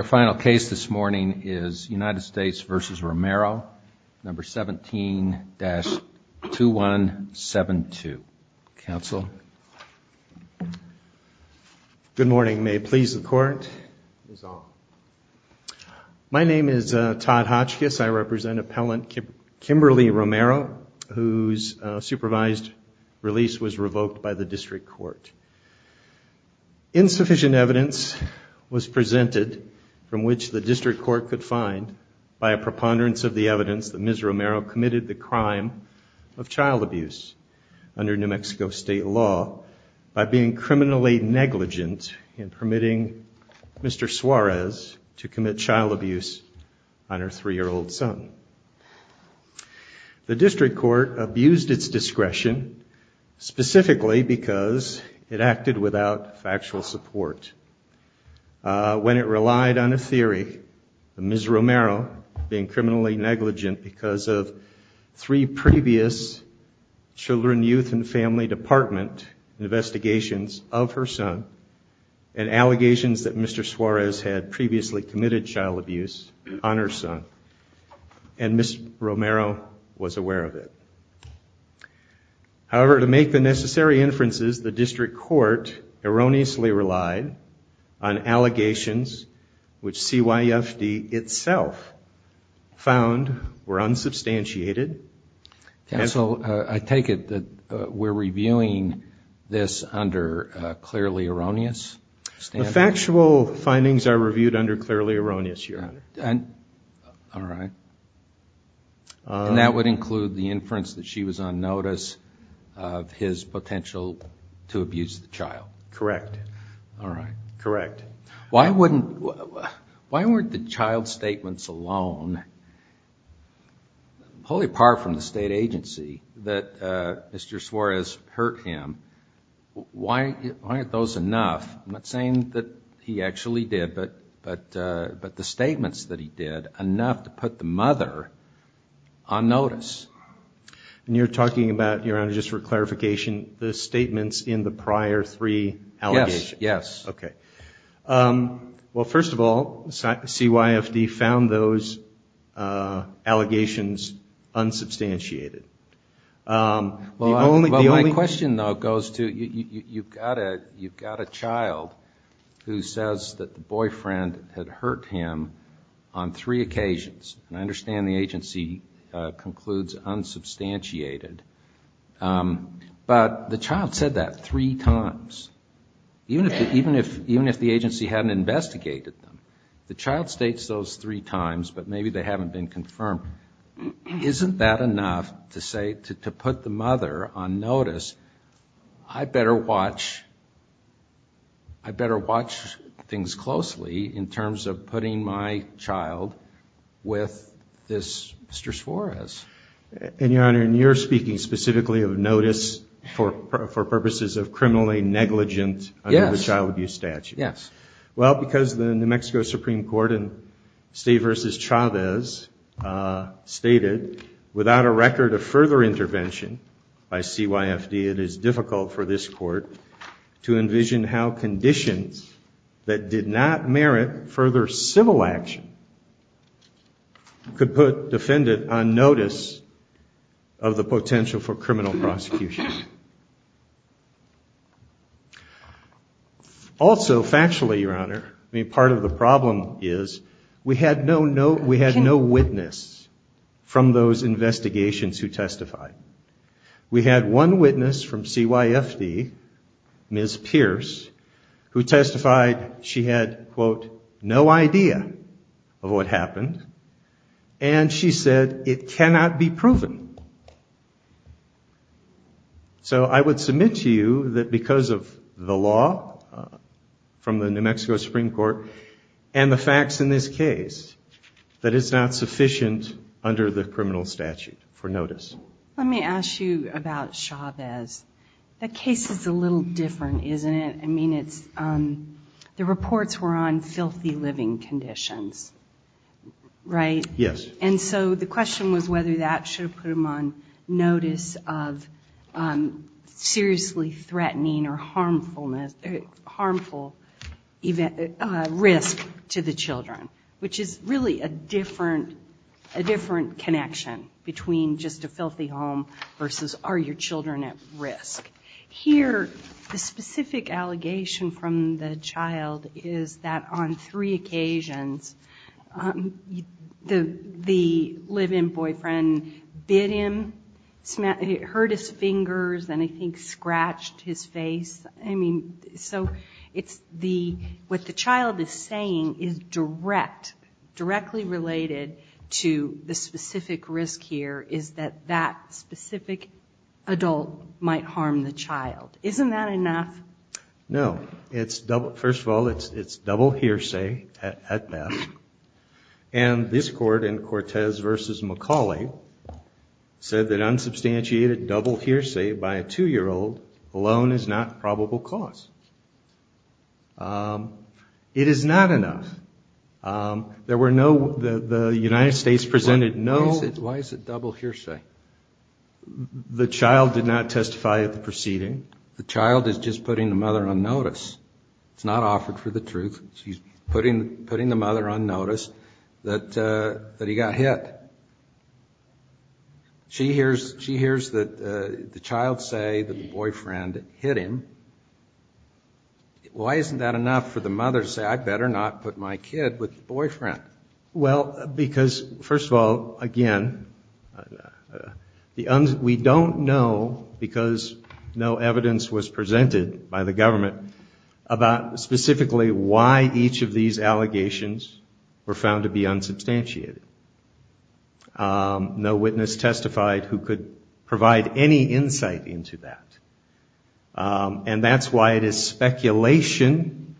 Our final case this morning is United States v. Romero, No. 17-2172. Council? Good morning. May it please the Court. My name is Todd Hotchkiss. I represent Appellant Kimberly Romero, whose supervised release was revoked by the District Court. Insufficient evidence was presented from which the District Court could find by a preponderance of the evidence that Ms. Romero committed the crime of child abuse under New Mexico State law by being criminally negligent in permitting Mr. Suarez to commit child abuse on her three-year-old son. The District Court abused its discretion specifically because it acted without factual support when it relied on a theory of Ms. Romero being criminally negligent because of three previous Children, Youth, and Family Department investigations of her son and allegations that Mr. Suarez had previously committed child abuse on her son. And Ms. Romero was aware of it. However, to make the necessary inferences, the District Court erroneously relied on allegations which CYFD itself found were unsubstantiated. Council, I take it that we're reviewing this under clearly erroneous standards? The factual findings are reviewed under clearly erroneous standards. All right. And that would include the inference that she was on notice of his potential to abuse the child? All right. Correct. Why weren't the child statements alone, wholly apart from the state agency, that Mr. Suarez hurt him, why aren't those enough? I'm not saying that he actually did, but the statements that he did, enough to put the mother on notice. And you're talking about, Your Honor, just for clarification, the statements in the prior three allegations? Yes. Okay. Well, first of all, CYFD found those allegations unsubstantiated. Well, my question, though, goes to, you've got a child who says that the boyfriend had hurt him on three occasions. And I understand the agency concludes unsubstantiated. But the child said that three times, even if the agency hadn't investigated them. The child states those three times, but maybe they haven't been confirmed. Isn't that enough to say, to put the mother on notice, I better watch things closely in terms of putting my child with this Mr. Suarez? And, Your Honor, and you're speaking specifically of notice for purposes of criminally negligent under the child abuse statute. Yes. Well, because the New Mexico Supreme Court in Stay vs. Chavez stated, without a record of further intervention by CYFD, it is difficult for this court to envision how conditions that did not merit further civil action could put defendant on notice. Of the potential for criminal prosecution. Also, factually, Your Honor, part of the problem is we had no witness from those investigations who testified. We had one witness from CYFD, Ms. Pierce, who testified she had, quote, no idea of what happened. And she said it cannot be proven. So I would submit to you that because of the law from the New Mexico Supreme Court and the facts in this case, that it's not sufficient under the criminal statute for notice. Let me ask you about Chavez. That case is a little different, isn't it? The reports were on filthy living conditions, right? Yes. And so the question was whether that should have put him on notice of seriously threatening or harmful risk to the children, which is really a different connection between just a filthy home versus are your children at risk. Here, the specific allegation from the child is that on three occasions, the live-in boyfriend bit him, hurt his fingers, and I think scratched his face. So what the child is saying is directly related to the specific risk here is that that specific adult might harm the child. Isn't that enough? No. First of all, it's double hearsay at best. And this court in Cortez v. McCauley said that unsubstantiated double hearsay by a two-year-old alone is not probable cause. It is not enough. There were no the United States presented no. Why is it double hearsay? The child did not testify at the proceeding. The child is just putting the mother on notice. It's not offered for the truth. She's putting the mother on notice that he got hit. She hears that the child say that the boyfriend hit him. Why isn't that enough for the mother to say, I better not put my kid with the boyfriend? Well, because, first of all, again, we don't know because no evidence was presented by the government about specifically why each of these allegations were found to be unsubstantiated. No witness testified who could provide any insight into that. And that's why it is speculation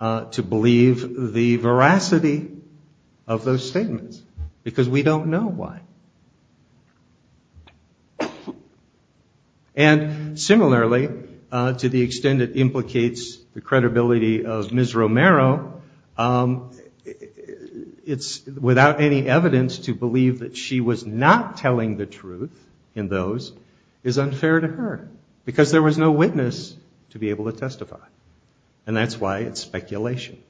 to believe the veracity of those statements because we don't know why. And similarly, to the extent it implicates the credibility of Ms. Romero, it's without any evidence to believe that she was not telling the truth in those is unfair to her because there was no witness to be able to testify. And that's why it's speculation.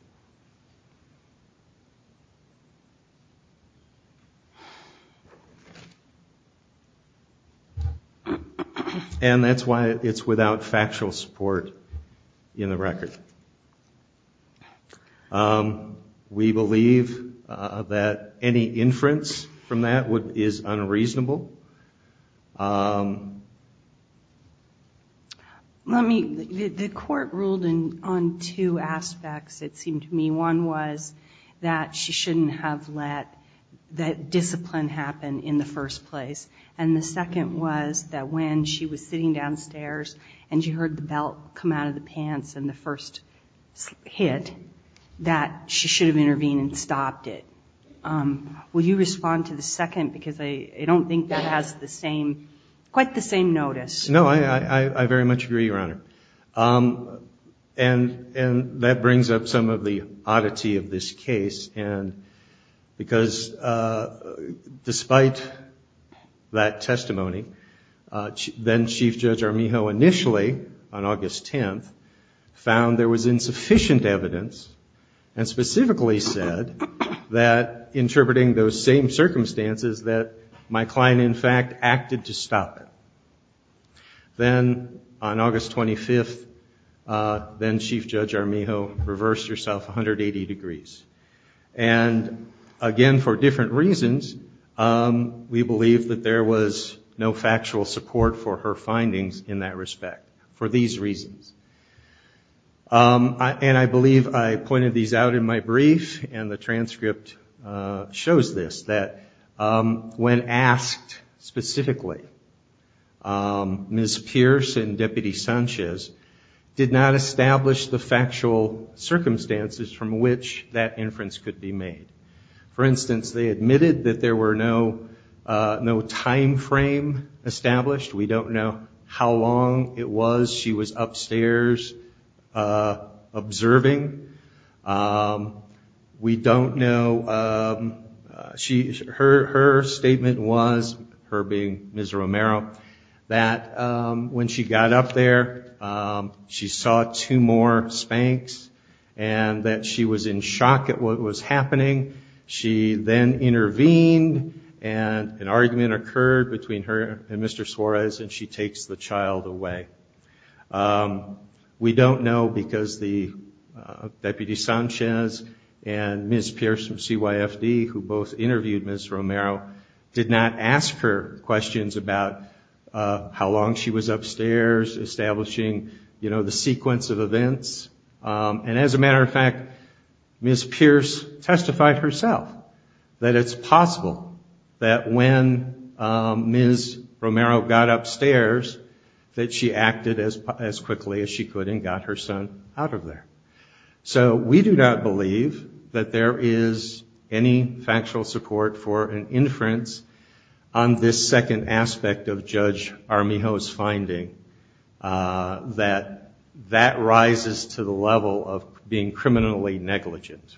And that's why it's without factual support in the record. We believe that any inference from that is unreasonable. The court ruled on two aspects, it seemed to me. One was that she shouldn't have let that discipline happen in the first place. And the second was that when she was sitting downstairs and she heard the belt come out of the pants in the first place, the first hit, that she should have intervened and stopped it. Will you respond to the second because I don't think that has quite the same notice. No, I very much agree, Your Honor. And that brings up some of the oddity of this case because despite that testimony, then Chief Judge Armijo initially on August 10th found there was insufficient evidence and specifically said that interpreting those same circumstances that my client in fact acted to stop it. Then on August 25th, then Chief Judge Armijo reversed herself 180 degrees. And again, for different reasons, we believe that there was no factual support for her findings in that respect. For these reasons. And I believe I pointed these out in my brief and the transcript shows this, that when asked specifically, Ms. Pierce and Deputy Sanchez did not establish the factual circumstances from which that inference could be made. For instance, they admitted that there were no time frame established. We don't know how long it was she was upstairs observing. We don't know, her statement was, her being Ms. Romero, that when she got up there, she saw two more spanks and that she was in shock at what was happening. She then intervened and an argument occurred between her and Mr. Suarez and she takes the child away. We don't know because the Deputy Sanchez and Ms. Pierce from CYFD, who both interviewed Ms. Romero, did not ask her questions about how long she was upstairs, establishing the sequence of events. And as a matter of fact, Ms. Pierce testified herself that it's possible that when Ms. Romero got upstairs, that she acted as quickly as she could and got her son out of there. So we do not believe that there is any factual support for an inference on this second aspect of Judge Armijo's finding, that that rises to the level of being criminally negligent.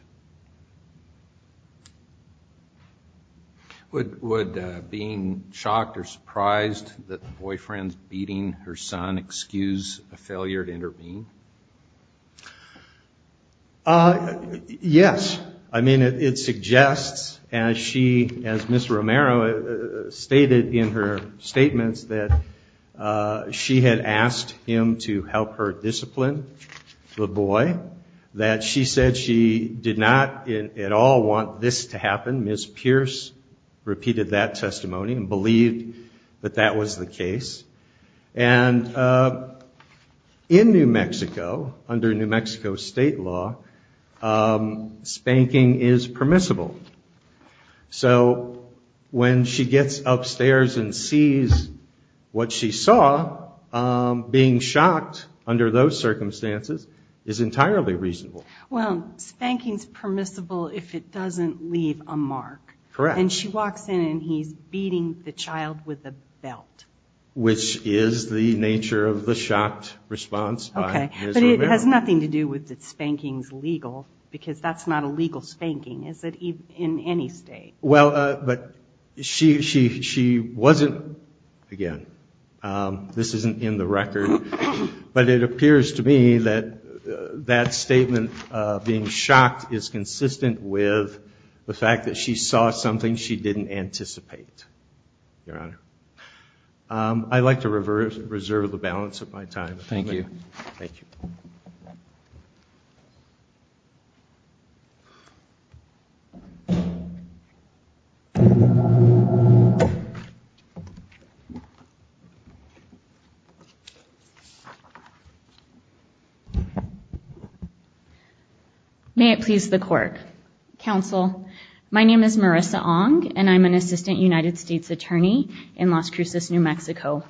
Would being shocked or surprised that the boyfriend's beating her son excuse a failure to intervene? Yes. I mean, it suggests, as Ms. Romero stated in her statements, that she had asked him to help her discipline the boy. That she said she did not at all want this to happen. Ms. Pierce repeated that testimony and believed that that was the case. And in New Mexico, under New Mexico state law, spanking is permissible. So when she gets upstairs and sees what she saw, being shocked under those circumstances is entirely reasonable. Well, spanking's permissible if it doesn't leave a mark. Correct. And she walks in and he's beating the child with a belt. Which is the nature of the shocked response by Ms. Romero. It has nothing to do with that spanking's legal, because that's not a legal spanking, is it, in any state? Well, but she wasn't, again, this isn't in the record, but it appears to me that that statement of being shocked is consistent with the fact that she saw something she didn't anticipate, Your Honor. I'd like to reserve the balance of my time. Thank you. May it please the court. Counsel, my name is Marissa Ong, and I'm an assistant United States attorney in Las Cruces, New Mexico.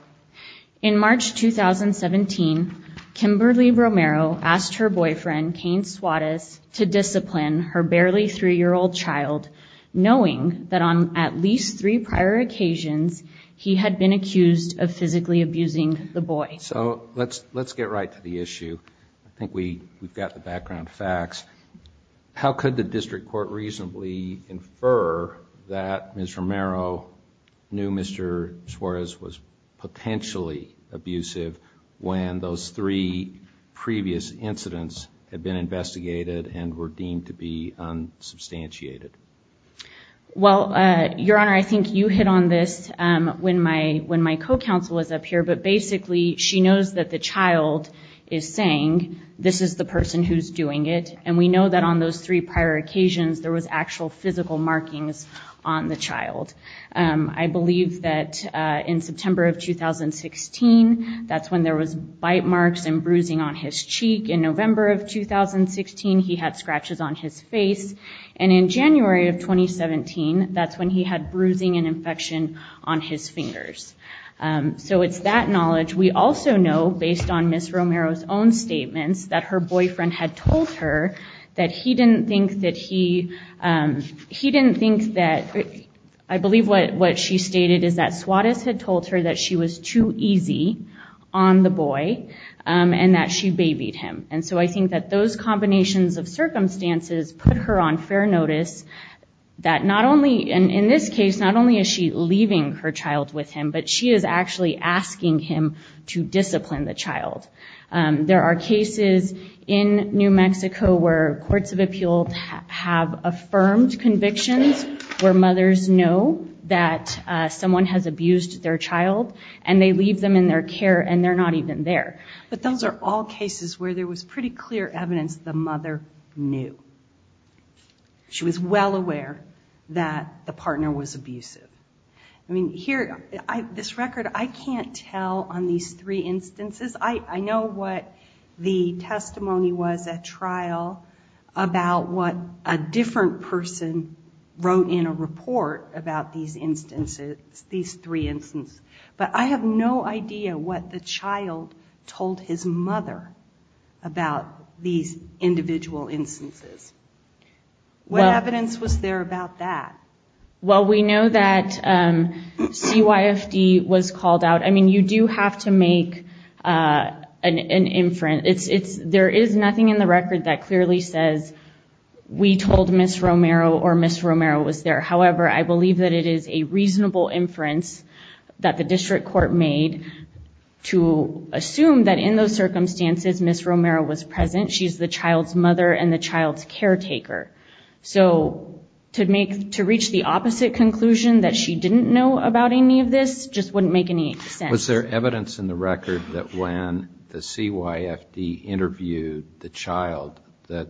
In March 2017, Kimberly Romero asked her boyfriend, Cain Suarez, to discipline her barely three-year-old child, knowing that on at least three prior occasions he had been accused of physically abusing the boy. So let's get right to the issue. I think we've got the background facts. How could the district court reasonably infer that Ms. Romero knew Mr. Suarez was potentially abusive when those three previous incidents had been investigated and were deemed to be unsubstantiated? Well, Your Honor, I think you hit on this when my co-counsel was up here, but basically she knows that the child is saying, this is the person who's doing it, and we know that on those three prior occasions there was actual physical markings on the child. I believe that in September of 2016, that's when there was bite marks and bruising on his cheek. In November of 2016, he had scratches on his face. And in January of 2017, that's when he had bruising and infection on his fingers. So it's that knowledge. We also know, based on Ms. Romero's own statements, that her boyfriend had told her that he didn't think that he... He didn't think that... I believe what she stated is that Suarez had told her that she was too easy on the boy, and that she babied him. And so I think that those combinations of circumstances put her on fair notice, that not only... And in this case, not only is she leaving her child with him, but she is actually asking him to discipline the child. There are cases in New Mexico where courts of appeals have affirmed convictions where mothers know that someone has abused their child, and they leave them in their care, and they're not even there. But those are all cases where there was pretty clear evidence the mother knew. She was well aware that the partner was abusive. I mean, here, this record, I can't tell on these three instances. I know what the testimony was at trial about what a different person wrote in a report about these instances, these three instances. But I have no idea what the child told his mother about these individual instances. What evidence was there about that? Well, we know that CYFD was called out. I mean, you do have to make an inference. There is nothing in the record that clearly says, we told Ms. Romero or Ms. Romero was there. However, I believe that it is a reasonable inference that the district court made to assume that in those circumstances Ms. Romero was present. She's the child's mother and the child's caretaker. So to reach the opposite conclusion that she didn't know about any of this just wouldn't make any sense. Was there evidence in the record that when the CYFD interviewed the child that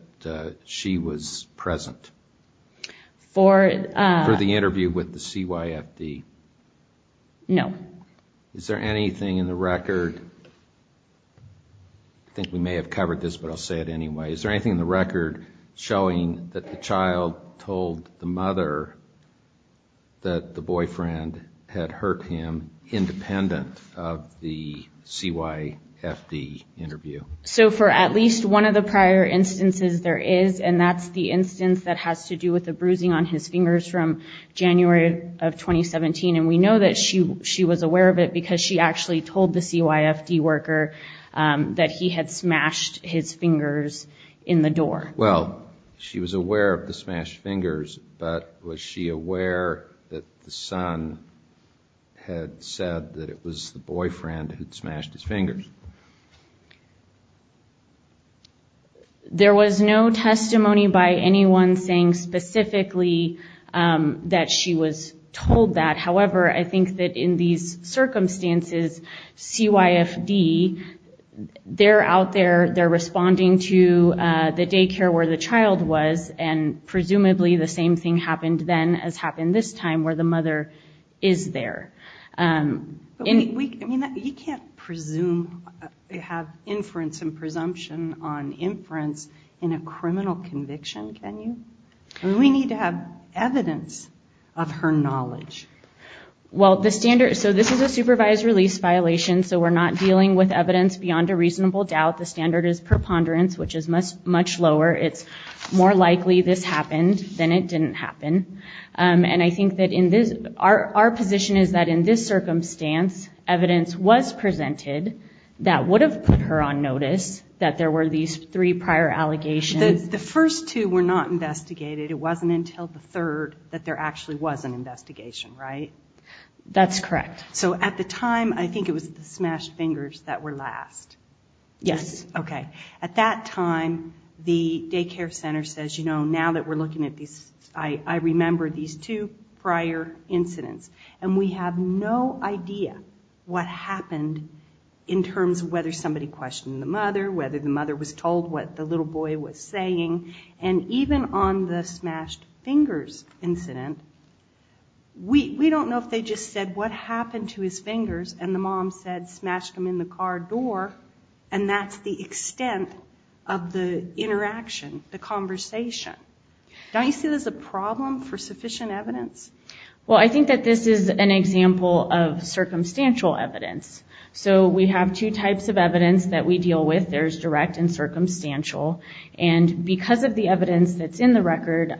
she was present for the interview with the CYFD? No. Is there anything in the record? I think we may have covered this, but I'll say it anyway. Is there anything in the record showing that the child told the mother that the boyfriend had hurt him independent of the CYFD interview? So for at least one of the prior instances there is, and that's the instance that has to do with the bruising on his fingers from January of 2017, and we know that she was aware of it because she actually told the CYFD worker that he had smashed his fingers in the door. Well, she was aware of the smashed fingers, but was she aware that the son had said that it was the boyfriend who had smashed his fingers? There was no testimony by anyone saying specifically that she was told that. However, I think that in these circumstances, CYFD, they're out there, they're responding to the daycare where the child was, and presumably the same thing happened then as happened this time where the mother is there. You can't presume, have inference and presumption on inference in a criminal conviction, can you? We need to have evidence of her knowledge. Well, this is a supervised release violation, so we're not dealing with evidence beyond a reasonable doubt. The standard is preponderance, which is much lower. It's more likely this happened than it didn't happen. And I think that our position is that in this circumstance, evidence was presented that would have put her on notice that there were these three prior allegations. The first two were not investigated. It wasn't until the third that there actually was an investigation, right? That's correct. So at the time, I think it was the smashed fingers that were last. Yes. Okay. At that time, the daycare center says, you know, now that we're looking at these, I remember these two prior incidents. And we have no idea what happened in terms of whether somebody questioned the mother, whether the mother was told what the little boy was saying. And even on the smashed fingers incident, we don't know if they just said what happened to his fingers and the mom said smashed him in the car door, and that's the extent of the interaction, the conversation. Don't you see this as a problem for sufficient evidence? Well, I think that this is an example of circumstantial evidence. So we have two types of evidence that we deal with. There's direct and circumstantial. And because of the evidence that's in the record,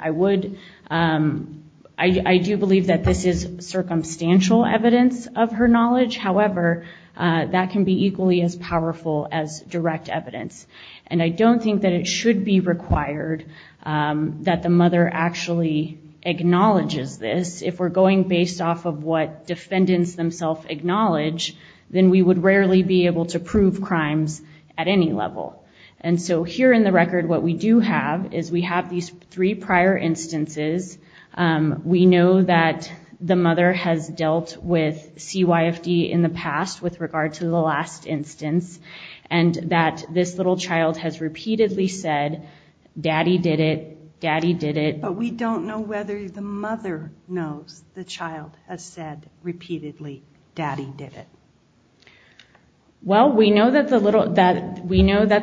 I do believe that this is circumstantial evidence of her knowledge. However, that can be equally as powerful as direct evidence. And I don't think that it should be required that the mother actually acknowledges this. If we're going based off of what defendants themselves acknowledge, then we would rarely be able to prove crimes at any level. And so here in the record, what we do have is we have these three prior instances. We know that the mother has dealt with CYFD in the past with regard to the last instance and that this little child has repeatedly said, daddy did it, daddy did it. But we don't know whether the mother knows the child has said repeatedly, daddy did it. Well, we know that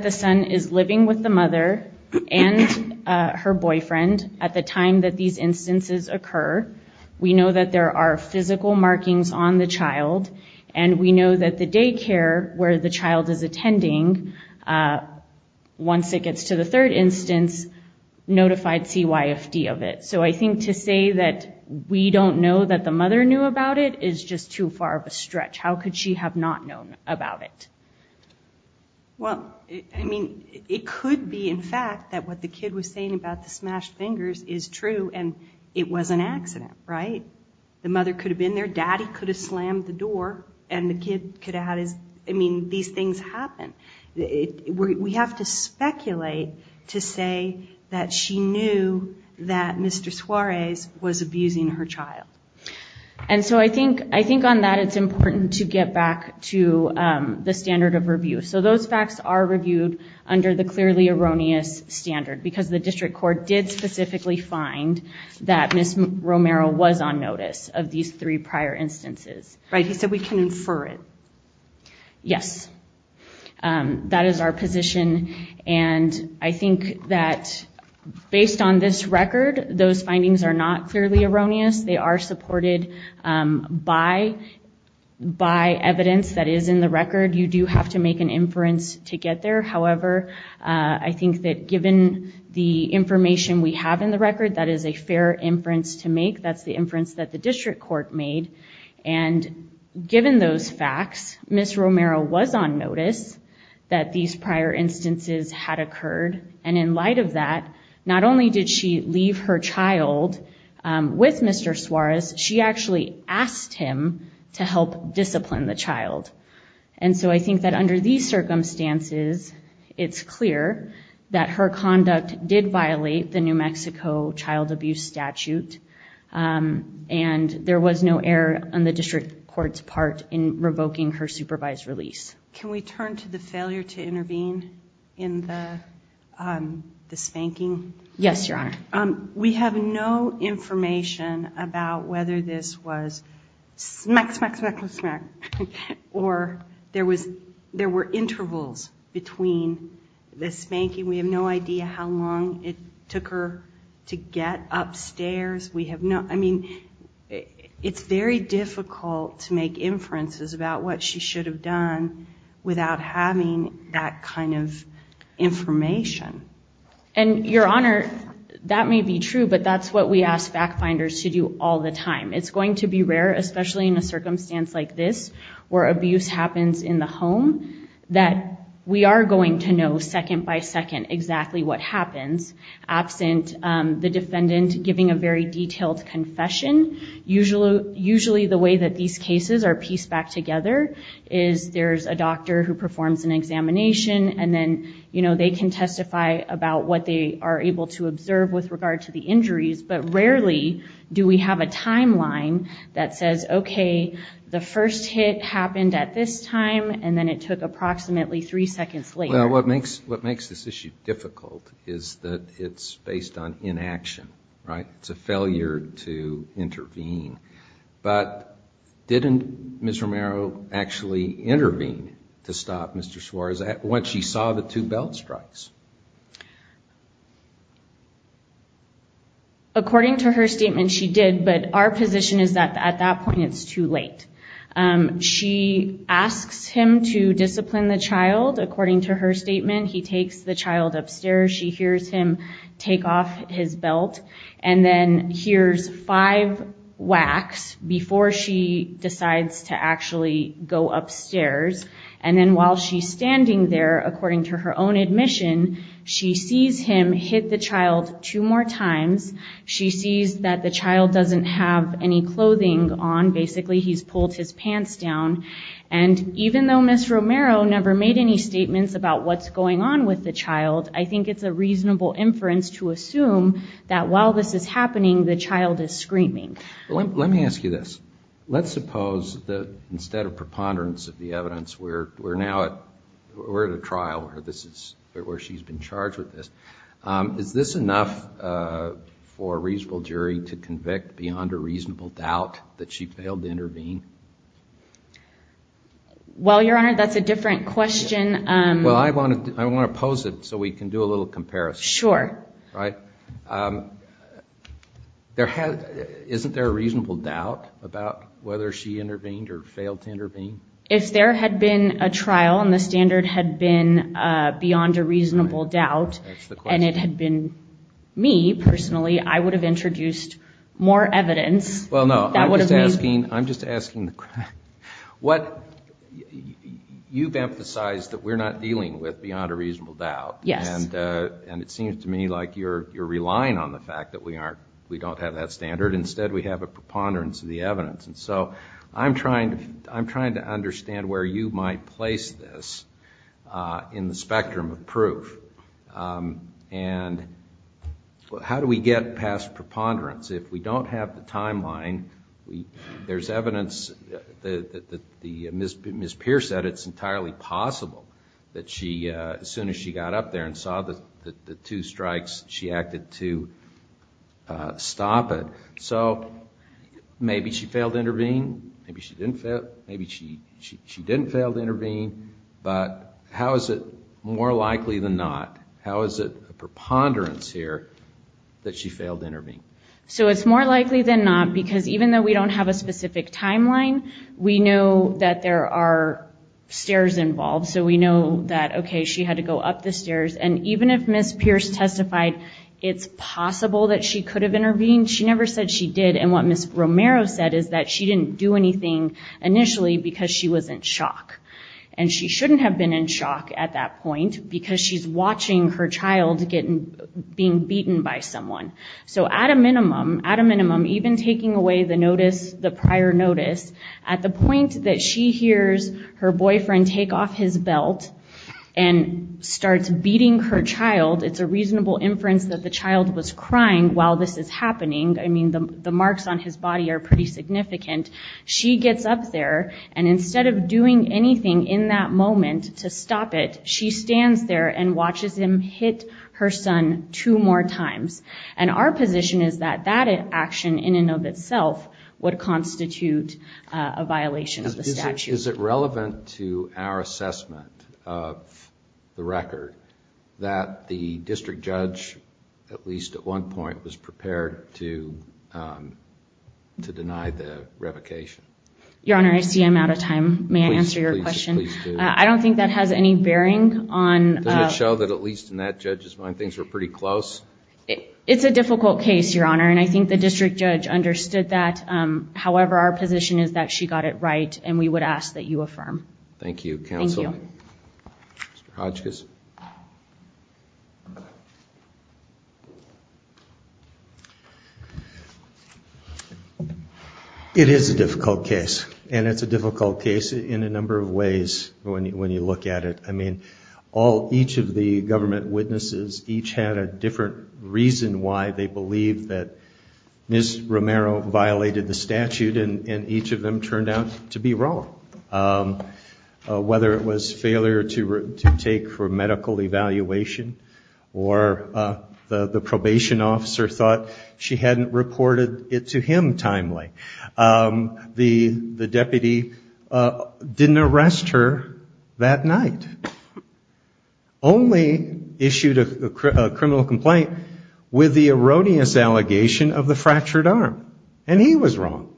the son is living with the mother and her boyfriend at the time that these instances occur. We know that there are physical markings on the child. And we know that the daycare where the child is attending, once it gets to the third instance, notified CYFD of it. So I think to say that we don't know that the mother knew about it is just too far of a stretch. How could she have not known about it? Well, I mean, it could be, in fact, that what the kid was saying about the smashed fingers is true and it was an accident, right? The mother could have been there, daddy could have slammed the door, and the kid could have had his, I mean, these things happen. We have to speculate to say that she knew that Mr. Suarez was abusing her child. And so I think on that it's important to get back to the standard of review. So those facts are reviewed under the clearly erroneous standard because the district court did specifically find that Miss Romero was on notice of these three prior instances. Right. He said we can infer it. Yes, that is our position. And I think that based on this record, those findings are not clearly erroneous. They are supported by evidence that is in the record. You do have to make an inference to get there. However, I think that given the information we have in the record, that is a fair inference to make. That's the inference that the district court made. And given those facts, Miss Romero was on notice that these prior instances had occurred. And in light of that, not only did she leave her child with Mr. Suarez, she actually asked him to help discipline the child. And so I think that under these circumstances, it's clear that her conduct did violate the New Mexico child abuse statute. And there was no error on the district court's part in revoking her supervised release. Can we turn to the failure to intervene in the spanking? Yes, Your Honor. We have no information about whether this was smack, smack, smack, smack, or there were intervals between the spanking. We have no idea how long it took her to get upstairs. I mean, it's very difficult to make inferences about what she should have done without having that kind of information. And, Your Honor, that may be true, but that's what we ask fact finders to do all the time. It's going to be rare, especially in a circumstance like this, where abuse happens in the home, that we are going to know second by second exactly what happens, absent the defendant giving a very detailed confession. Usually the way that these cases are pieced back together is there's a doctor who performs an examination, and then they can testify about what they are able to observe with regard to the injuries. But rarely do we have a timeline that says, okay, the first hit happened at this time, and then it took approximately three seconds later. Well, what makes this issue difficult is that it's based on inaction, right? It's a failure to intervene. But didn't Ms. Romero actually intervene to stop Mr. Suarez once she saw the two belt strikes? According to her statement, she did, but our position is that at that point it's too late. She asks him to discipline the child. According to her statement, he takes the child upstairs. She hears him take off his belt and then hears five whacks before she decides to actually go upstairs. And then while she's standing there, according to her own admission, she sees him hit the child two more times. She sees that the child doesn't have any clothing on. Basically, he's pulled his pants down. And even though Ms. Romero never made any statements about what's going on with the child, I think it's a reasonable inference to assume that while this is happening, the child is screaming. Let me ask you this. Let's suppose that instead of preponderance of the evidence, we're now at a trial where she's been charged with this. Is this enough for a reasonable jury to convict beyond a reasonable doubt that she failed to intervene? Well, Your Honor, that's a different question. Well, I want to pose it so we can do a little comparison. Sure. Right? Isn't there a reasonable doubt about whether she intervened or failed to intervene? If there had been a trial and the standard had been beyond a reasonable doubt and it had been me personally, I would have introduced more evidence. Well, no. We're not dealing with beyond a reasonable doubt. Yes. And it seems to me like you're relying on the fact that we don't have that standard. Instead, we have a preponderance of the evidence. And so I'm trying to understand where you might place this in the spectrum of proof. And how do we get past preponderance? If we don't have the timeline, there's evidence that Ms. Pierce said it's entirely possible that as soon as she got up there and saw the two strikes, she acted to stop it. So maybe she failed to intervene, maybe she didn't fail to intervene, but how is it more likely than not, how is it a preponderance here that she failed to intervene? So it's more likely than not because even though we don't have a specific timeline, we know that there are stairs involved. So we know that, okay, she had to go up the stairs. And even if Ms. Pierce testified it's possible that she could have intervened, she never said she did. And what Ms. Romero said is that she didn't do anything initially because she was in shock. And she shouldn't have been in shock at that point because she's watching her child being beaten by someone. So at a minimum, at a minimum, even taking away the notice, the prior notice, at the point that she hears her boyfriend take off his belt and starts beating her child, it's a reasonable inference that the child was crying while this is happening. I mean, the marks on his body are pretty significant. She gets up there and instead of doing anything in that moment to stop it, she stands there and watches him hit her son two more times. And our position is that that action in and of itself would constitute a violation of the statute. Is it relevant to our assessment of the record that the district judge, at least at one point, was prepared to deny the revocation? Your Honor, I see I'm out of time. May I answer your question? Please do. I don't think that has any bearing on... Doesn't it show that at least in that judge's mind things were pretty close? It's a difficult case, Your Honor, and I think the district judge understood that. However, our position is that she got it right and we would ask that you affirm. Thank you. Mr. Hodgkiss. It is a difficult case, and it's a difficult case in a number of ways when you look at it. I mean, each of the government witnesses each had a different reason why they believed that Ms. Romero violated the statute, and each of them turned out to be wrong. Whether it was failure to take for medical evaluation or the probation officer thought she hadn't reported it to him timely. The deputy didn't arrest her that night, only issued a criminal complaint with the erroneous allegation of the fractured arm, and he was wrong.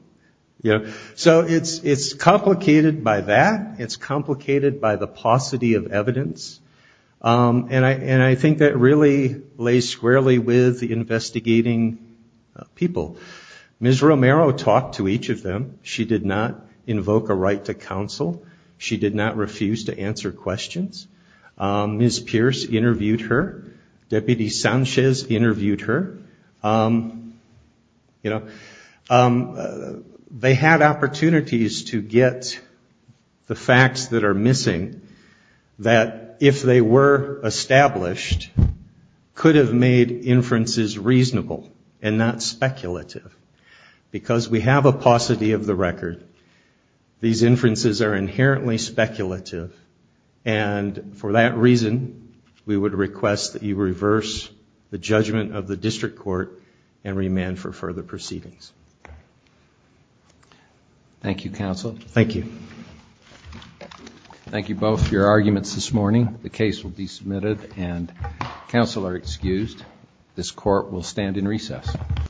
So it's complicated by that. It's complicated by the paucity of evidence, and I think that really lays squarely with the investigating people. Ms. Romero talked to each of them. She did not invoke a right to counsel. She did not refuse to answer questions. Ms. Pierce interviewed her. Deputy Sanchez interviewed her. You know, they had opportunities to get the facts that are missing that if they were established, could have made inferences reasonable and not speculative, because we have a paucity of the record. These inferences are inherently speculative, and for that reason, we would request that you reverse the judgment of the district court and remand for further proceedings. Thank you, counsel. Thank you. Thank you both for your arguments this morning. The case will be submitted, and counsel are excused. This court will stand in recess.